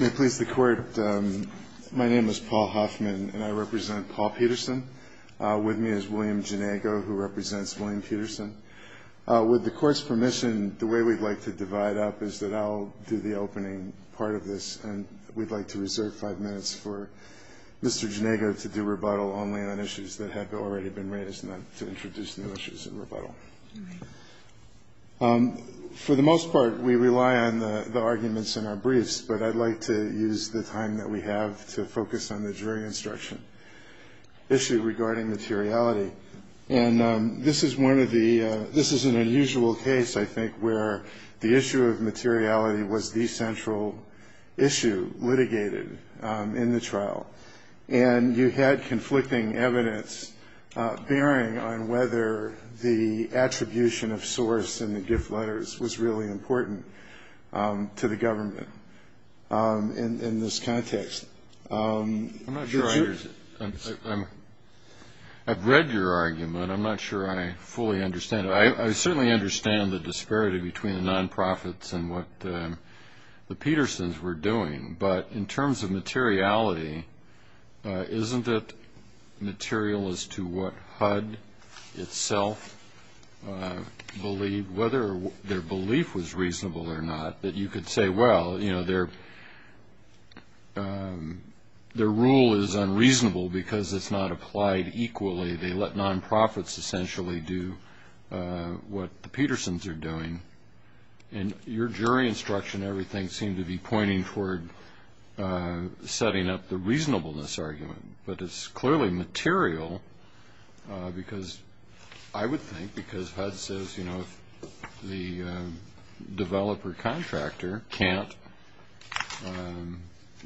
May it please the Court, my name is Paul Hoffman and I represent Paul Peterson. With me is William Ginego, who represents William Peterson. With the Court's permission, the way we'd like to divide up is that I'll do the opening part of this, and we'd like to reserve five minutes for Mr. Ginego to do rebuttal only on issues that have already been raised and then to introduce new issues in rebuttal. For the most part, we rely on the arguments in our briefs, but I'd like to use the time that we have to focus on the jury instruction issue regarding materiality. And this is an unusual case, I think, where the issue of materiality was the central issue litigated in the trial. And you had conflicting evidence bearing on whether the attribution of source in the gift letters was really important to the government in this context. I'm not sure I understand. I've read your argument. I'm not sure I fully understand it. I certainly understand the disparity between the nonprofits and what the Petersons were doing, but in terms of materiality, isn't it material as to what HUD itself believed, whether their belief was reasonable or not, that you could say, well, you know, their rule is unreasonable because it's not applied equally. They let nonprofits essentially do what the Petersons are doing. And your jury instruction and everything seemed to be pointing toward setting up the reasonableness argument. But it's clearly material because I would think because HUD says, you know, the developer contractor can't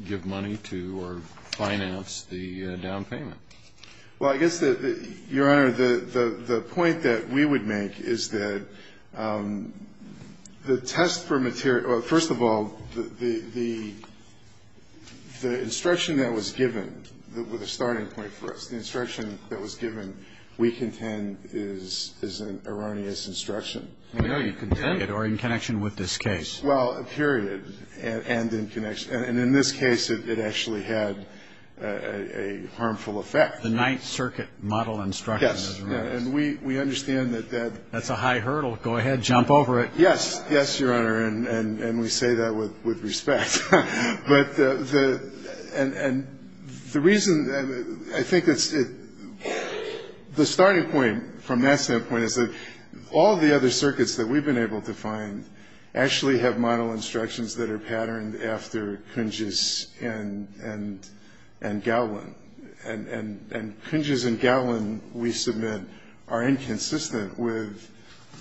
give money to or finance the down payment. Well, I guess, Your Honor, the point that we would make is that the test for material or, first of all, the instruction that was given, the starting point for us, the instruction that was given, we contend, is an erroneous instruction. I know you contend, or in connection with this case. Well, period, and in connection. The ninth circuit model instruction. Yes. And we understand that. That's a high hurdle. Go ahead. Jump over it. Yes. Yes, Your Honor. And we say that with respect. But the reason I think the starting point from that standpoint is that all the other circuits that we've been able to find actually have model instructions that are patterned after Kunjis and Gowlin. And Kunjis and Gowlin, we submit, are inconsistent with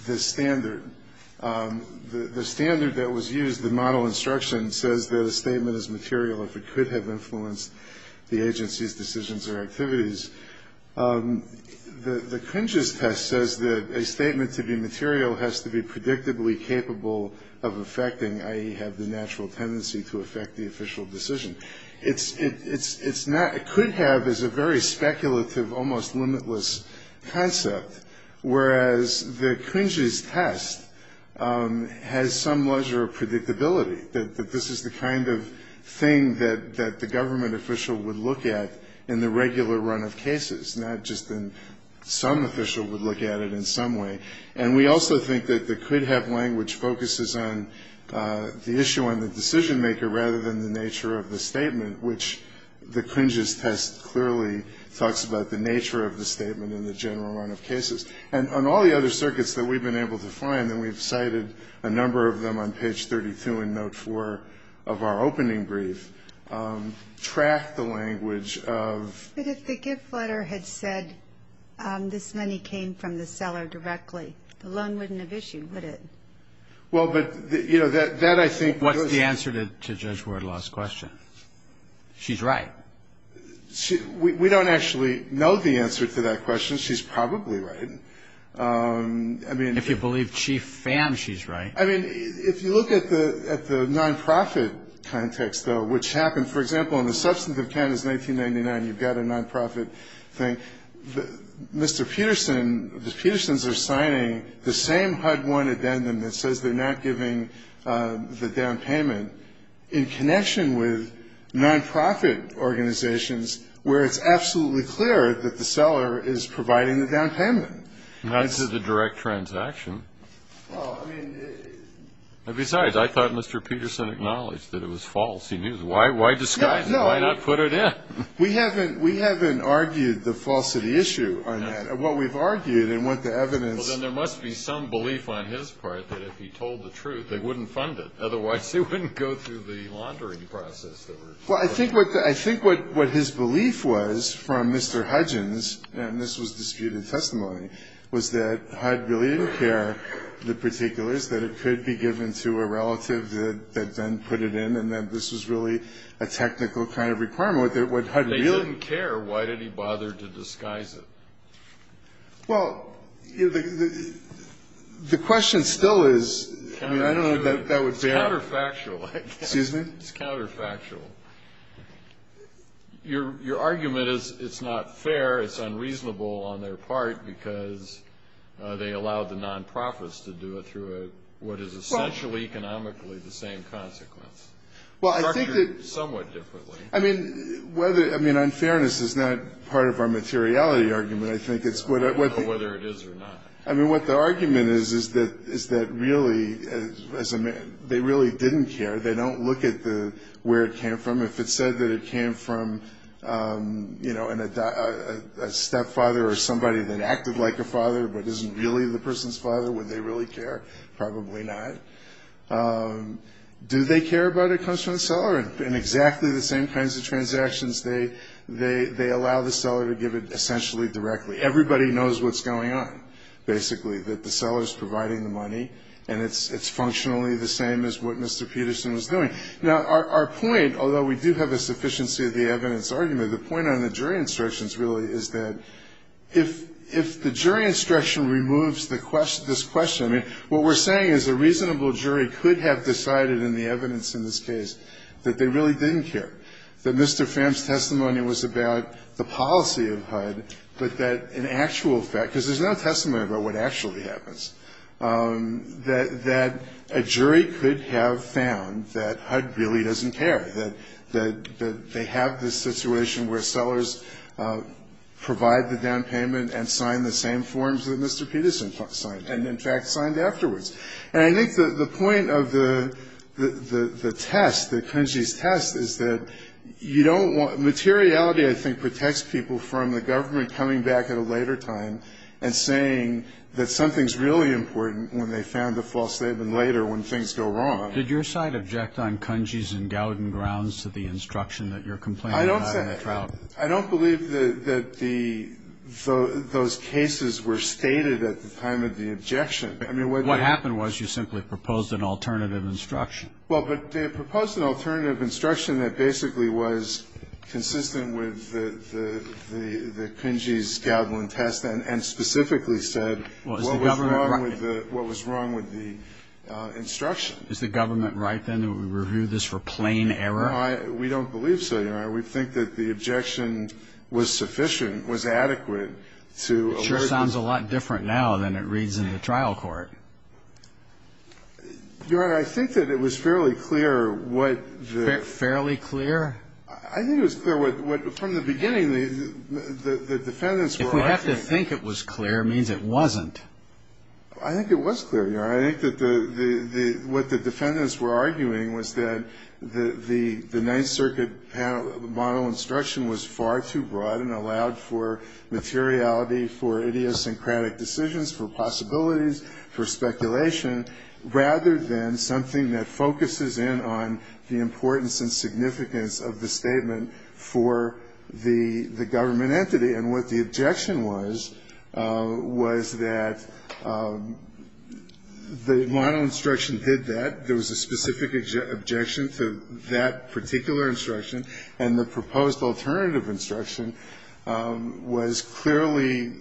the standard. The standard that was used, the model instruction, says that a statement is material if it could have influenced the agency's decisions or activities. The Kunjis test says that a statement to be material has to be predictably capable of affecting, i.e., have the natural tendency to affect the official decision. It could have as a very speculative, almost limitless concept, whereas the Kunjis test has some leisure of predictability, that this is the kind of thing that the government official would look at in the regular run of cases, not just some official would look at it in some way. And we also think that the could-have language focuses on the issue on the decision maker rather than the nature of the statement, which the Kunjis test clearly talks about the nature of the statement in the general run of cases. And on all the other circuits that we've been able to find, and we've cited a number of them on page 32 in note 4 of our opening brief, track the language of... But if the gift letter had said this money came from the seller directly, the loan wouldn't have issued, would it? Well, but, you know, that I think... What's the answer to Judge Ward-Loss' question? She's right. We don't actually know the answer to that question. She's probably right. I mean... If you believe Chief Pham, she's right. I mean, if you look at the nonprofit context, though, which happened... For example, in the substance of Kansas 1999, you've got a nonprofit thing. Mr. Peterson... The Petersons are signing the same HUD-1 addendum that says they're not giving the down payment in connection with nonprofit organizations where it's absolutely clear that the seller is providing the down payment. Now, this is a direct transaction. Well, I mean... Besides, I thought Mr. Peterson acknowledged that it was false. He knew. Why disguise it? Why not put it in? We haven't... We haven't argued the falsity issue on that. What we've argued and what the evidence... Well, then there must be some belief on his part that if he told the truth, they wouldn't fund it. Otherwise, they wouldn't go through the laundering process. Well, I think what his belief was from Mr. Hudgins, and this was disputed testimony, was that HUD really didn't care the particulars, that it could be given to a relative that then put it in, and that this was really a technical kind of requirement. They didn't care. Why did he bother to disguise it? Well, the question still is... It's counterfactual, I guess. Excuse me? It's counterfactual. Your argument is it's not fair, it's unreasonable on their part, because they allowed the nonprofits to do it through what is essentially economically the same consequence. Well, I think that... Structured somewhat differently. I mean, whether... I mean, unfairness is not part of our materiality argument. I think it's... I don't know whether it is or not. I mean, what the argument is, is that really... They really didn't care. They don't look at where it came from. If it said that it came from a stepfather or somebody that acted like a father but isn't really the person's father, would they really care? Probably not. Do they care about it comes from the seller? In exactly the same kinds of transactions, they allow the seller to give it essentially directly. Everybody knows what's going on, basically, that the seller is providing the money, and it's functionally the same as what Mr. Peterson was doing. Now, our point, although we do have a sufficiency of the evidence argument, the point on the jury instructions really is that if the jury instruction removes this question... I mean, what we're saying is a reasonable jury could have decided in the evidence in this case that they really didn't care, that Mr. Pham's testimony was about the policy of HUD, but that in actual fact... that a jury could have found that HUD really doesn't care, that they have this situation where sellers provide the down payment and sign the same forms that Mr. Peterson signed and, in fact, signed afterwards. And I think the point of the test, the Klinge's test, is that you don't want... Materiality, I think, protects people from the government coming back at a later time and saying that something's really important when they found the false statement later when things go wrong. Did your side object on Klinge's and Gowden grounds to the instruction that you're complaining about in the trial? I don't believe that those cases were stated at the time of the objection. What happened was you simply proposed an alternative instruction. Well, but they proposed an alternative instruction that basically was consistent with the Klinge's, Gowden test, and specifically said what was wrong with the instruction. Is the government right, then, that we review this for plain error? No, we don't believe so, Your Honor. We think that the objection was sufficient, was adequate to... It sure sounds a lot different now than it reads in the trial court. Your Honor, I think that it was fairly clear what the... Fairly clear? I think it was clear what, from the beginning, the defendants were arguing. If we have to think it was clear, it means it wasn't. I think it was clear, Your Honor. I think that what the defendants were arguing was that the Ninth Circuit model instruction was far too broad and allowed for materiality, for idiosyncratic decisions, for possibilities, for speculation, rather than something that focuses in on the importance and significance of the statement for the government entity. And what the objection was, was that the model instruction did that. There was a specific objection to that particular instruction. And the proposed alternative instruction was clearly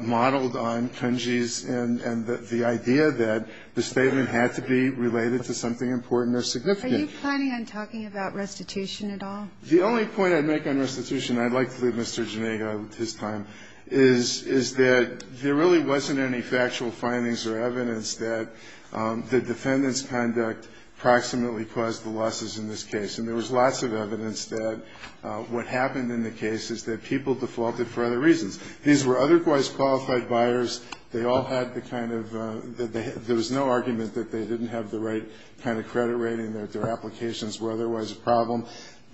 modeled on Klinge's and the idea that the statement had to be related to something important or significant. Are you planning on talking about restitution at all? The only point I'd make on restitution, and I'd like to leave Mr. Genega his time, is that there really wasn't any factual findings or evidence that the defendant's conduct approximately caused the losses in this case. And there was lots of evidence that what happened in the case is that people defaulted for other reasons. These were otherwise qualified buyers. They all had the kind of the – there was no argument that they didn't have the right kind of credit rating, that their applications were otherwise a problem.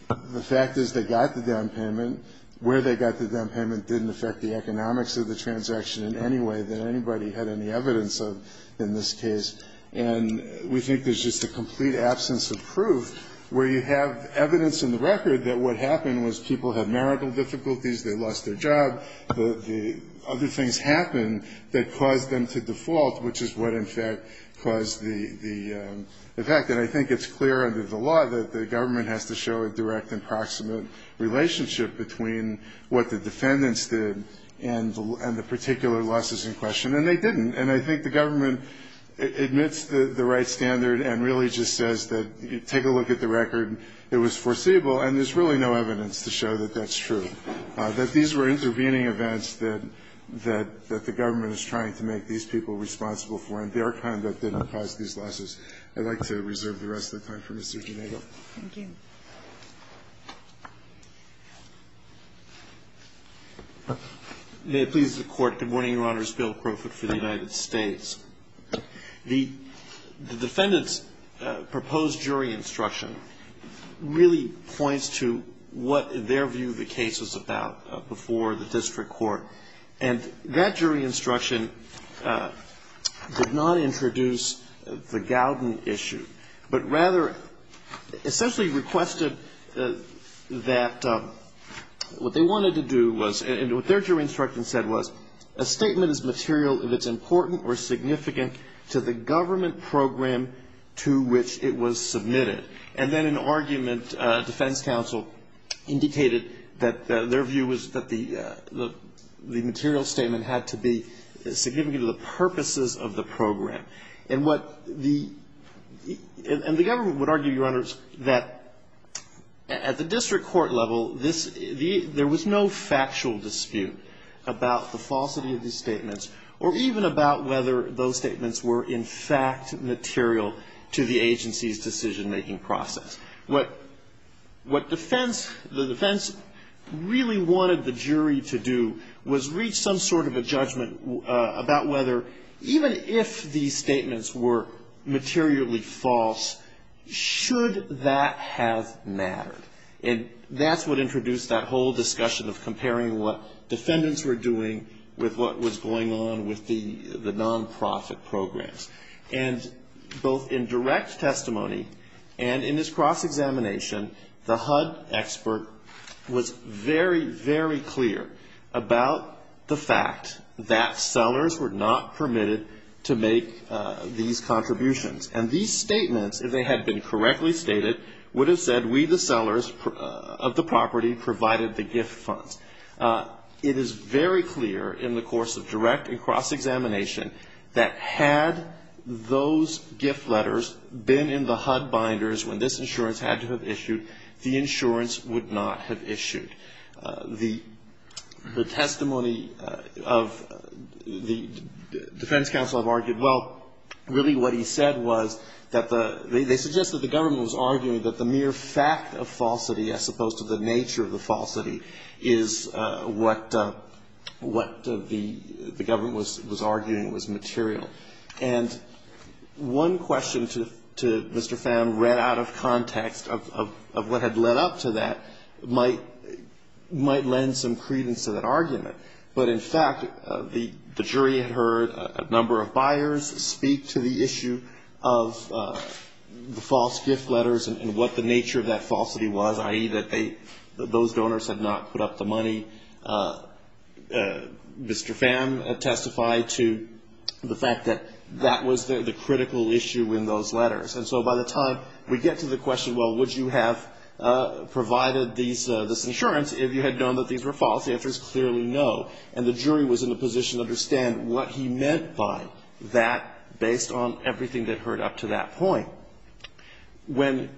The fact is they got the down payment. Where they got the down payment didn't affect the economics of the transaction in any way that anybody had any evidence of in this case. And we think there's just a complete absence of proof where you have evidence in the record that what happened was people had marital difficulties, they lost their job. The other things happened that caused them to default, which is what, in fact, caused the effect. And I think it's clear under the law that the government has to show a direct and proximate relationship between what the defendants did and the particular losses in question. And they didn't. And I think the government admits the right standard and really just says that take a look at the record. It was foreseeable. And there's really no evidence to show that that's true, that these were intervening events that the government is trying to make these people responsible for, and their conduct didn't cause these losses. I'd like to reserve the rest of the time for Mr. Ginelli. Thank you. May it please the Court. Good morning, Your Honors. Bill Crowfoot for the United States. The defendant's proposed jury instruction really points to what, in their view, the case was about before the district court. And that jury instruction did not introduce the Gowden issue, but rather essentially requested that what they wanted to do was, and what their jury instruction said was, a statement is material if it's important or significant to the government program to which it was submitted. And then in argument, defense counsel indicated that their view was that the government material statement had to be significant to the purposes of the program. And the government would argue, Your Honors, that at the district court level, there was no factual dispute about the falsity of these statements, or even about whether those statements were in fact material to the agency's decision-making process. What defense, the defense really wanted the jury to do was reach some sort of a judgment about whether, even if these statements were materially false, should that have mattered. And that's what introduced that whole discussion of comparing what defendants were doing with what was going on with the nonprofit programs. And both in direct testimony and in this cross-examination, the HUD expert was very, very clear about the fact that sellers were not permitted to make these contributions. And these statements, if they had been correctly stated, would have said we, the sellers of the property, provided the gift funds. It is very clear in the course of direct and cross-examination that had those gift letters been in the HUD binders when this insurance had to have issued, the insurance would not have issued. The testimony of the defense counsel have argued, well, really what he said was that the, they suggested the government was arguing that the mere fact of falsity, as opposed to the nature of the falsity, is what the government was arguing was material. And one question to Mr. Pham read out of context of what had led up to that might lend some credence to that argument. But, in fact, the jury had heard a number of buyers speak to the issue of the false gift letters and what the nature of that falsity was, i.e., that those donors had not put up the money. Mr. Pham testified to the fact that that was the critical issue in those letters. And so by the time we get to the question, well, would you have provided this insurance if you had known that these were false, the answer is clearly no. And the jury was in a position to understand what he meant by that based on everything that had heard up to that point. When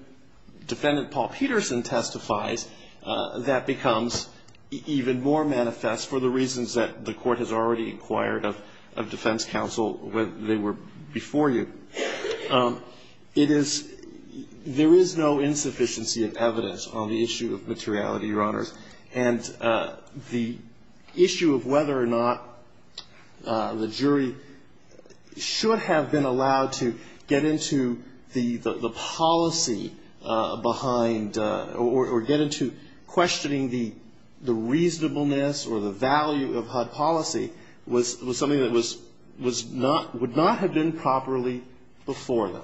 Defendant Paul Peterson testifies, that becomes even more manifest for the reasons that the Court has already inquired of defense counsel when they were before you. It is, there is no insufficiency of evidence on the issue of materiality, Your Honors. And the issue of whether or not the jury should have been allowed to get into the policy behind or get into questioning the reasonableness or the value of HUD policy was something that was not, would not have been properly before them.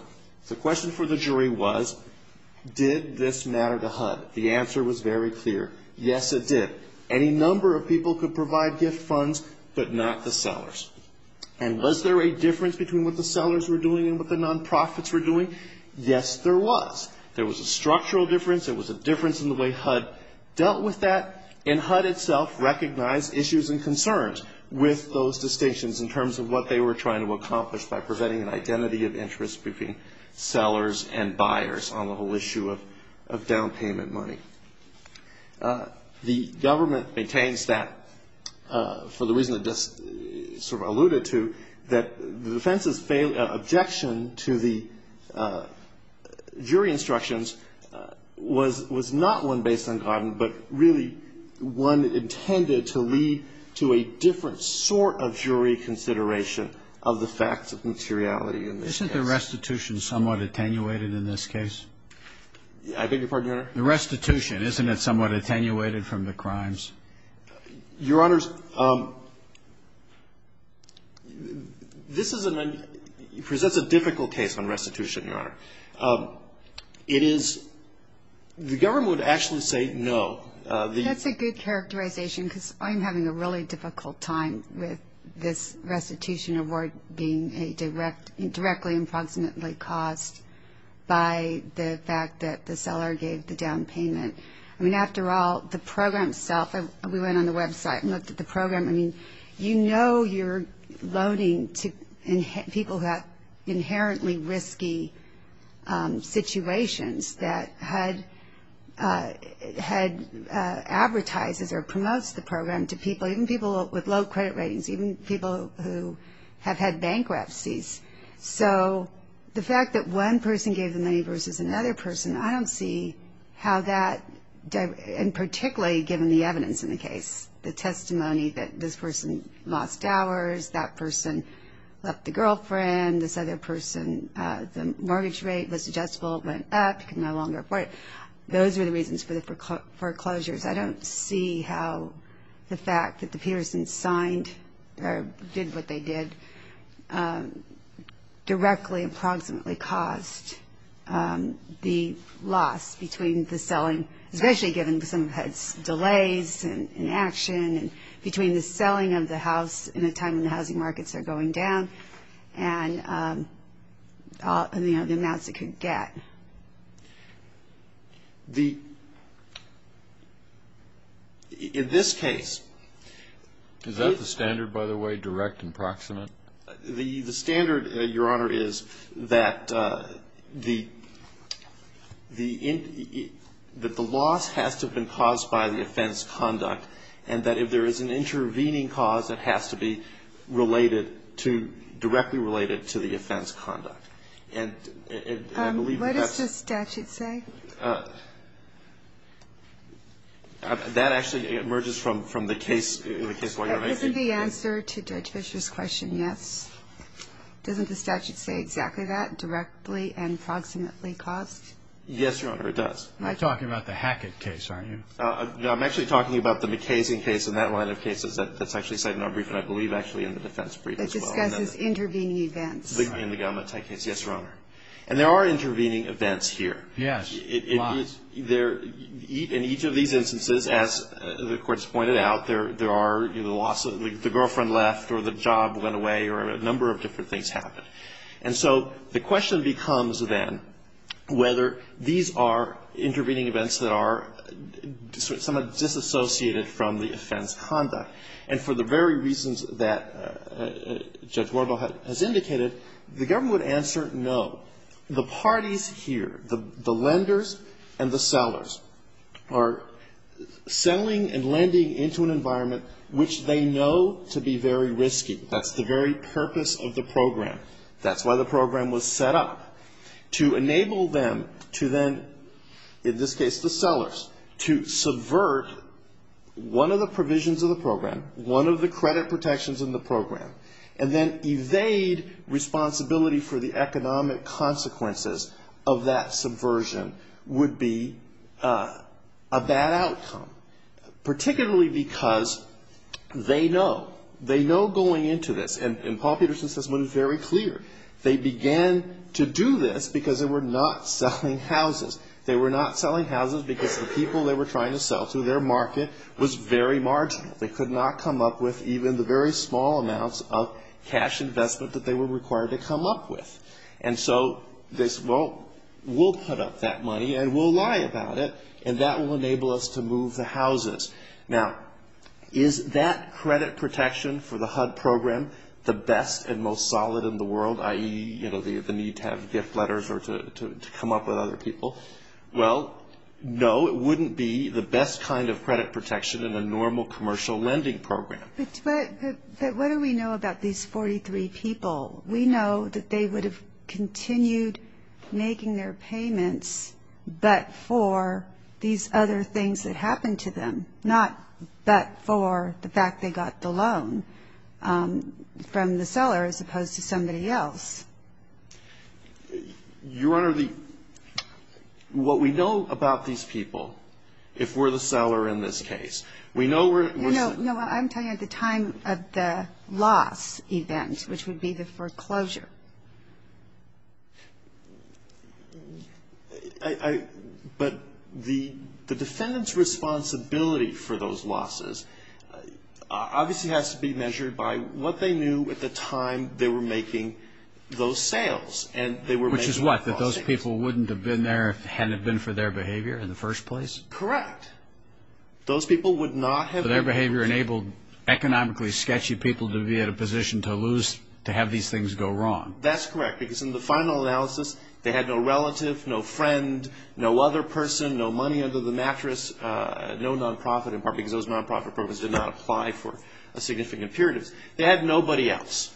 The question for the jury was, did this matter to HUD? The answer was very clear. Yes, it did. Any number of people could provide gift funds, but not the sellers. And was there a difference between what the sellers were doing and what the nonprofits were doing? Yes, there was. There was a structural difference, there was a difference in the way HUD dealt with that, and HUD itself recognized issues and concerns with those distinctions in terms of what they were trying to accomplish by preventing an identity of interest between sellers and buyers on the whole issue of down payment money. The government maintains that, for the reason it just sort of alluded to, that the defense's objection to the jury instructions was not one based on Godden, but really one intended to lead to a different sort of jury consideration of the facts of materiality in this case. Isn't the restitution somewhat attenuated in this case? I beg your pardon, Your Honor? The restitution, isn't it somewhat attenuated from the crimes? Your Honor, this is a, presents a difficult case on restitution, Your Honor. It is, the government would actually say no. That's a good characterization, because I'm having a really difficult time with this restitution award being a direct, directly and approximately caused by the fact that the seller gave the down payment. I mean, after all, the program itself, we went on the website and looked at the program. I mean, you know you're loaning to people who have inherently risky situations that HUD advertises or promotes the program to people, even people with low credit ratings, even people who have had bankruptcies. So the fact that one person gave the money versus another person, I don't see how that, and particularly given the evidence in the case, the testimony that this person lost hours, that person left the girlfriend, this other person, the mortgage rate was adjustable, went up, could no longer afford it. Those were the reasons for the foreclosures. I don't see how the fact that the Peterson's signed or did what they did directly and approximately caused the loss between the selling, especially given some of HUD's delays in action, between the selling of the house in a time when the housing markets are going down and, you know, the amounts it could get. The, in this case. Is that the standard, by the way, direct and approximate? The standard, Your Honor, is that the loss has to have been caused by the offense conduct and that if there is an intervening cause, it has to be related to, directly related to the offense conduct. What does the statute say? That actually emerges from the case. Isn't the answer to Judge Fischer's question yes? Doesn't the statute say exactly that, directly and approximately caused? Yes, Your Honor, it does. You're talking about the Hackett case, aren't you? No, I'm actually talking about the McKay's case and that line of cases that's actually cited in our brief and I believe actually in the defense brief as well. I'm sorry. In the government type case, yes, Your Honor. And there are intervening events here. Yes. In each of these instances, as the Court has pointed out, there are, you know, the loss of, the girlfriend left or the job went away or a number of different things happened. And so the question becomes then whether these are intervening events that are somewhat disassociated from the offense conduct. And for the very reasons that Judge Worbel has indicated, the government would answer no. The parties here, the lenders and the sellers are selling and lending into an environment which they know to be very risky. That's the very purpose of the program. That's why the program was set up, to enable them to then, in this case the sellers, to subvert one of the provisions of the program, one of the credit protections in the program, and then evade responsibility for the economic consequences of that subversion would be a bad outcome. Particularly because they know, they know going into this, and Paul Peterson says this one is very clear, they began to do this because they were not selling houses. They were not selling houses because the people they were trying to sell to, their market was very marginal. They could not come up with even the very small amounts of cash investment that they were required to come up with. And so they said, well, we'll put up that money and we'll lie about it and that will enable us to move the houses. Now, is that credit protection for the HUD program the best and most solid in the world, i.e., you know, the need to have gift letters or to come up with other people? Well, no, it wouldn't be the best kind of credit protection in a normal commercial lending program. But what do we know about these 43 people? We know that they would have continued making their payments, but for these other things that happened to them, not but for the fact they got the loan from the seller as opposed to somebody else. Your Honor, the – what we know about these people, if we're the seller in this case, we know we're – No, no, I'm talking at the time of the loss event, which would be the foreclosure. Obviously has to be measured by what they knew at the time they were making those sales. And they were making – Which is what? That those people wouldn't have been there if it hadn't been for their behavior in the first place? Correct. Those people would not have been – So their behavior enabled economically sketchy people to be at a position to lose – to have these things go wrong. That's correct, because in the final analysis, they had no relative, no friend, no other person, no money under the mattress, no non-profit, in part because those non-profit programs did not apply for a significant period. They had nobody else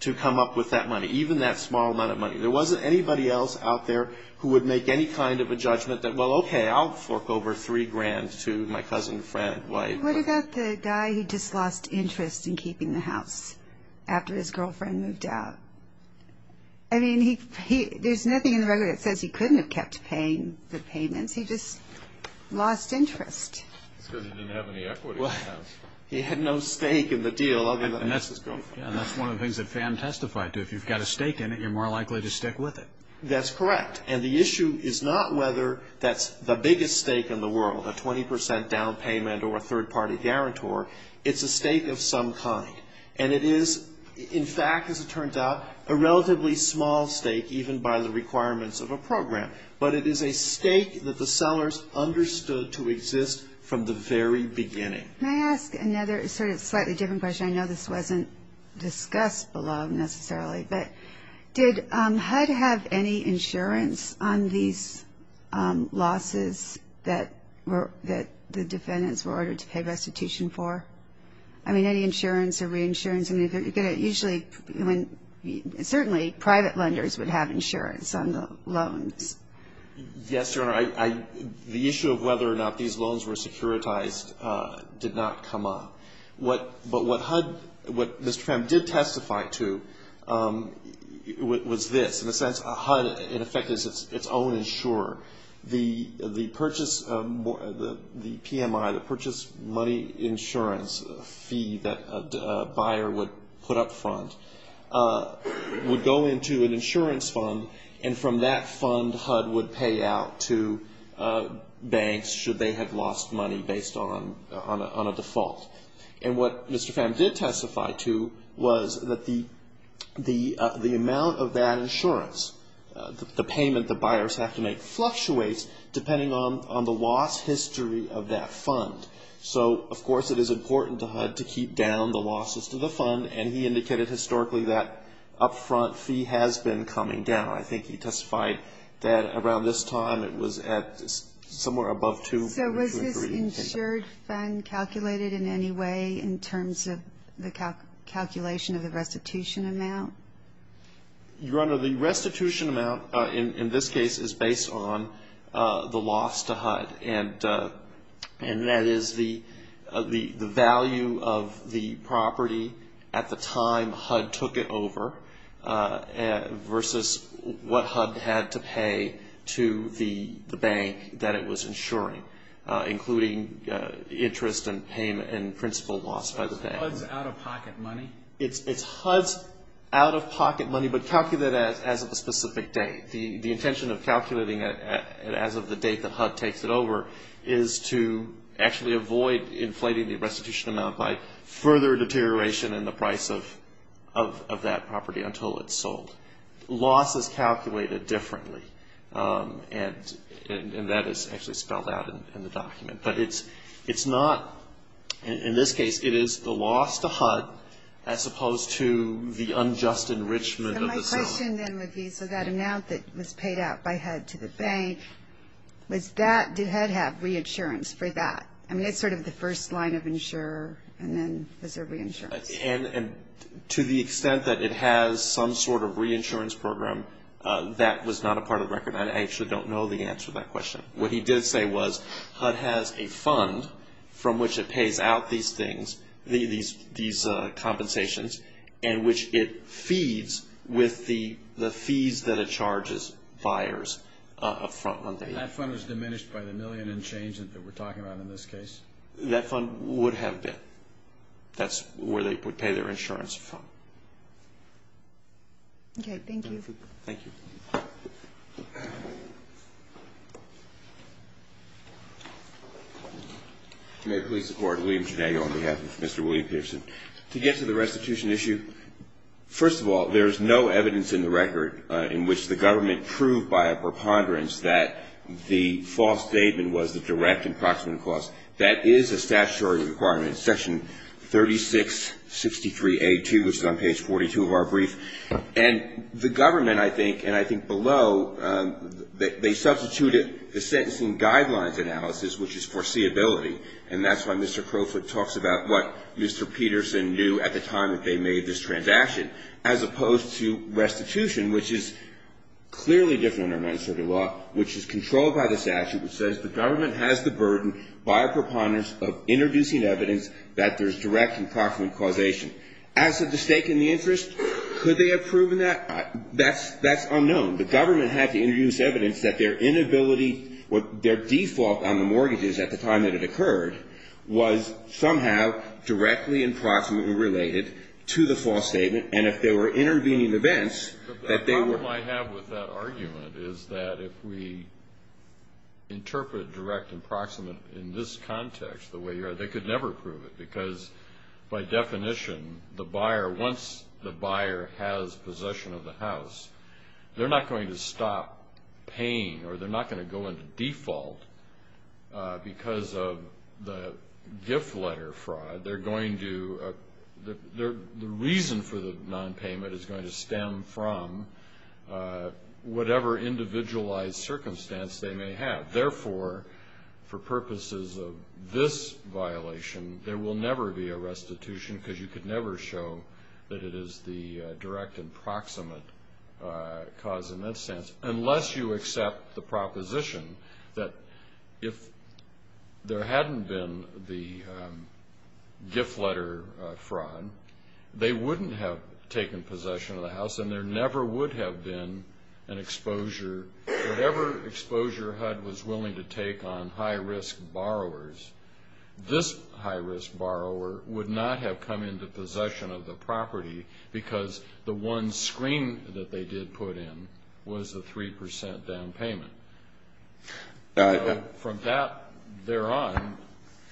to come up with that money, even that small amount of money. There wasn't anybody else out there who would make any kind of a judgment that, well, okay, I'll fork over three grand to my cousin, friend, wife. What about the guy who just lost interest in keeping the house after his girlfriend moved out? I mean, there's nothing in the record that says he couldn't have kept paying the payments. He just lost interest. It's because he didn't have any equity in the house. He had no stake in the deal. And that's one of the things that Pham testified to. If you've got a stake in it, you're more likely to stick with it. That's correct. And the issue is not whether that's the biggest stake in the world, a 20 percent down payment or a third-party guarantor. It's a stake of some kind. And it is, in fact, as it turns out, a relatively small stake even by the requirements of a program. But it is a stake that the sellers understood to exist from the very beginning. Can I ask another sort of slightly different question? I know this wasn't discussed below necessarily, but did HUD have any insurance on these losses that the defendants were ordered to pay restitution for? I mean, any insurance or reinsurance? Usually, certainly private lenders would have insurance on the loans. Yes, Your Honor. The issue of whether or not these loans were securitized did not come up. But what HUD, what Mr. Pham did testify to was this. In a sense, HUD, in effect, is its own insurer. The purchase, the PMI, the purchase money insurance fee that a buyer would put up front would go into an insurance fund, and from that fund HUD would pay out to banks should they have lost money based on a default. And what Mr. Pham did testify to was that the amount of that insurance, the payment that buyers have to make fluctuates depending on the loss history of that fund. So, of course, it is important to HUD to keep down the losses to the fund, and he indicated historically that up front fee has been coming down. I think he testified that around this time it was at somewhere above $200,000. So was this insured fund calculated in any way in terms of the calculation of the restitution amount? Your Honor, the restitution amount in this case is based on the loss to HUD, and that is the value of the property at the time HUD took it over versus what HUD had to pay to the bank that it was insuring, including interest and payment and principal lost by the bank. So it's HUD's out-of-pocket money? It's HUD's out-of-pocket money, but calculated as of a specific date. The intention of calculating it as of the date that HUD takes it over is to actually avoid inflating the restitution amount by further deterioration in the price of that property until it's sold. Loss is calculated differently, and that is actually spelled out in the document. But it's not, in this case, it is the loss to HUD as opposed to the unjust enrichment of the sale. So my question then would be, so that amount that was paid out by HUD to the bank, was that, did HUD have reinsurance for that? I mean, it's sort of the first line of insurer, and then was there reinsurance? And to the extent that it has some sort of reinsurance program, that was not a part of the record. I actually don't know the answer to that question. What he did say was HUD has a fund from which it pays out these things, these compensations, and which it feeds with the fees that it charges buyers up front when they leave. And that fund was diminished by the million in change that we're talking about in this case? That fund would have been. That's where they would pay their insurance fund. Okay, thank you. Thank you. May it please the Court. William Janago on behalf of Mr. William Peterson. To get to the restitution issue, first of all, there is no evidence in the record in which the government proved by a preponderance that the false statement was the direct and proximate cause. That is a statutory requirement, section 3663A2, which is on page 42 of our brief. And the government, I think, and I think below, they substituted the sentencing guidelines analysis, which is foreseeability. And that's why Mr. Crowfoot talks about what Mr. Peterson knew at the time that they made this transaction, as opposed to restitution, which is clearly different under United States law, which is controlled by the statute, which says the government has the burden by a preponderance of introducing evidence that there's direct and proximate causation. As to the stake in the interest, could they have proven that? That's unknown. The government had to introduce evidence that their inability, their default on the mortgages at the time that it occurred was somehow directly and proximately related to the false statement. And if there were intervening events, that they were. The problem I have with that argument is that if we interpret direct and proximate in this context, the way you are, they could never prove it because, by definition, the buyer, once the buyer has possession of the house, they're not going to stop paying or they're not going to go into default because of the gift letter fraud. They're going to, the reason for the nonpayment is going to stem from whatever individualized circumstance they may have. Therefore, for purposes of this violation, there will never be a restitution because you could never show that it is the direct and proximate cause in that sense, unless you accept the proposition that if there hadn't been the gift letter fraud, they wouldn't have taken possession of the house and there never would have been an exposure. Whatever exposure HUD was willing to take on high-risk borrowers, this high-risk borrower would not have come into possession of the property because the one screen that they did put in was the 3 percent down payment. From that thereon,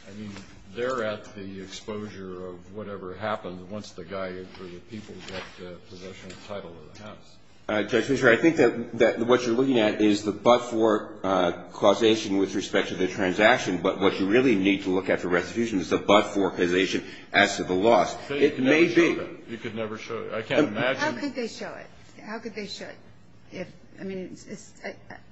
I mean, they're at the exposure of whatever happened once the guy or the people got possession of the title of the house. Judge Fischer, I think that what you're looking at is the but-for causation with respect to the transaction, but what you really need to look at the restitution is the but-for causation as to the loss. It may be. You could never show it. I can't imagine. How could they show it? How could they show it? I mean,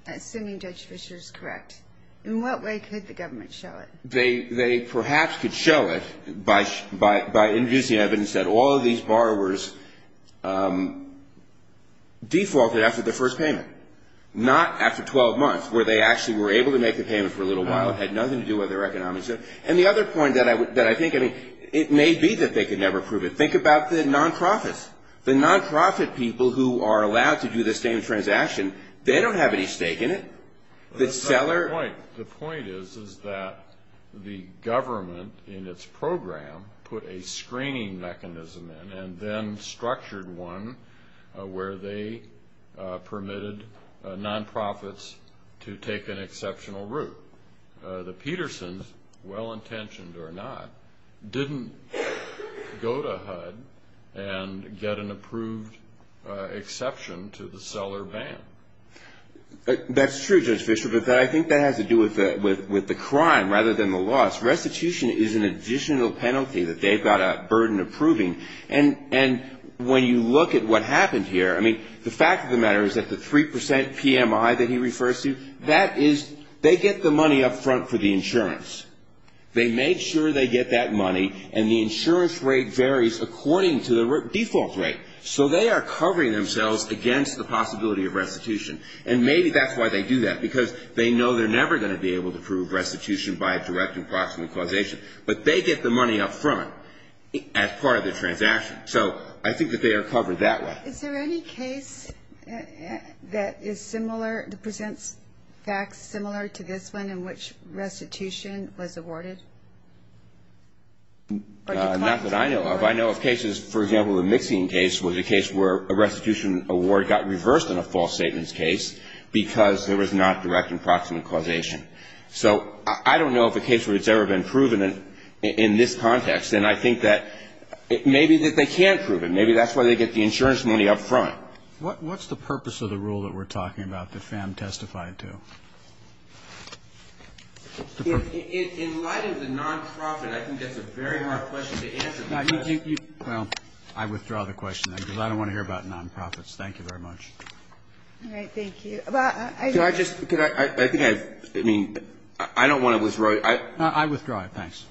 assuming Judge Fischer is correct, in what way could the government show it? They perhaps could show it by introducing evidence that all of these borrowers defaulted after the first payment, not after 12 months where they actually were able to make the payment for a little while. It had nothing to do with their economics. And the other point that I think, I mean, it may be that they could never prove it. Think about the non-profits. The non-profit people who are allowed to do the same transaction, they don't have any stake in it. The point is that the government in its program put a screening mechanism in and then structured one where they permitted non-profits to take an exceptional route. The Petersons, well-intentioned or not, didn't go to HUD and get an approved exception to the seller ban. That's true, Judge Fischer, but I think that has to do with the crime rather than the loss. Restitution is an additional penalty that they've got a burden approving. And when you look at what happened here, I mean, the fact of the matter is that the 3 percent PMI that he refers to, that is they get the money up front for the insurance. They made sure they get that money, and the insurance rate varies according to the default rate. So they are covering themselves against the possibility of restitution. And maybe that's why they do that, because they know they're never going to be able to prove restitution by a direct and proximate causation. But they get the money up front as part of the transaction. So I think that they are covered that way. Is there any case that is similar, presents facts similar to this one in which restitution was awarded? Not that I know of. I know of cases, for example, the Mixian case was a case where a restitution award got reversed in a false statements case because there was not direct and proximate causation. So I don't know of a case where it's ever been proven in this context. And I think that maybe that they can't prove it. Maybe that's why they get the insurance money up front. What's the purpose of the rule that we're talking about that Pham testified to? In light of the non-profit, I think that's a very hard question to answer. Well, I withdraw the question, because I don't want to hear about non-profits. Thank you very much. All right. Thank you. Can I just? I mean, I don't want to withdraw. I withdraw it. Thanks.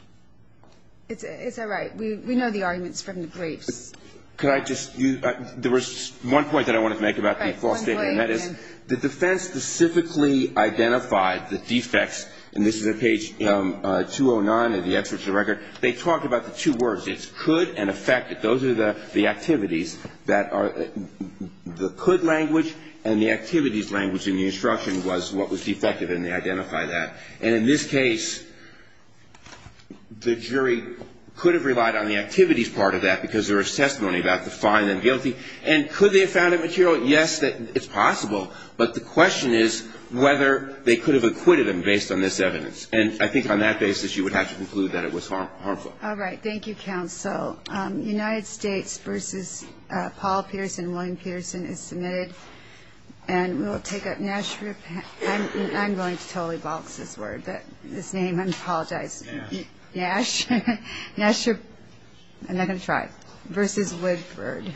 Is that right? We know the arguments from the briefs. Could I just? There was one point that I wanted to make about the false statement. And that is the defense specifically identified the defects. And this is at page 209 of the excerpt of the record. They talked about the two words. It's could and affected. Those are the activities that are the could language and the activities language in the instruction was what was defective. And they identified that. And in this case, the jury could have relied on the activities part of that, because there was testimony about the fine and guilty. And could they have found it material? Yes. It's possible. But the question is whether they could have acquitted him based on this evidence. And I think on that basis, you would have to conclude that it was harmful. All right. Thank you, counsel. United States versus Paul Peterson and William Peterson is submitted. And we'll take up Nash. I'm going to totally box this word, this name. I apologize. Nash. Nash. Nash. I'm not going to try. Versus Woodford.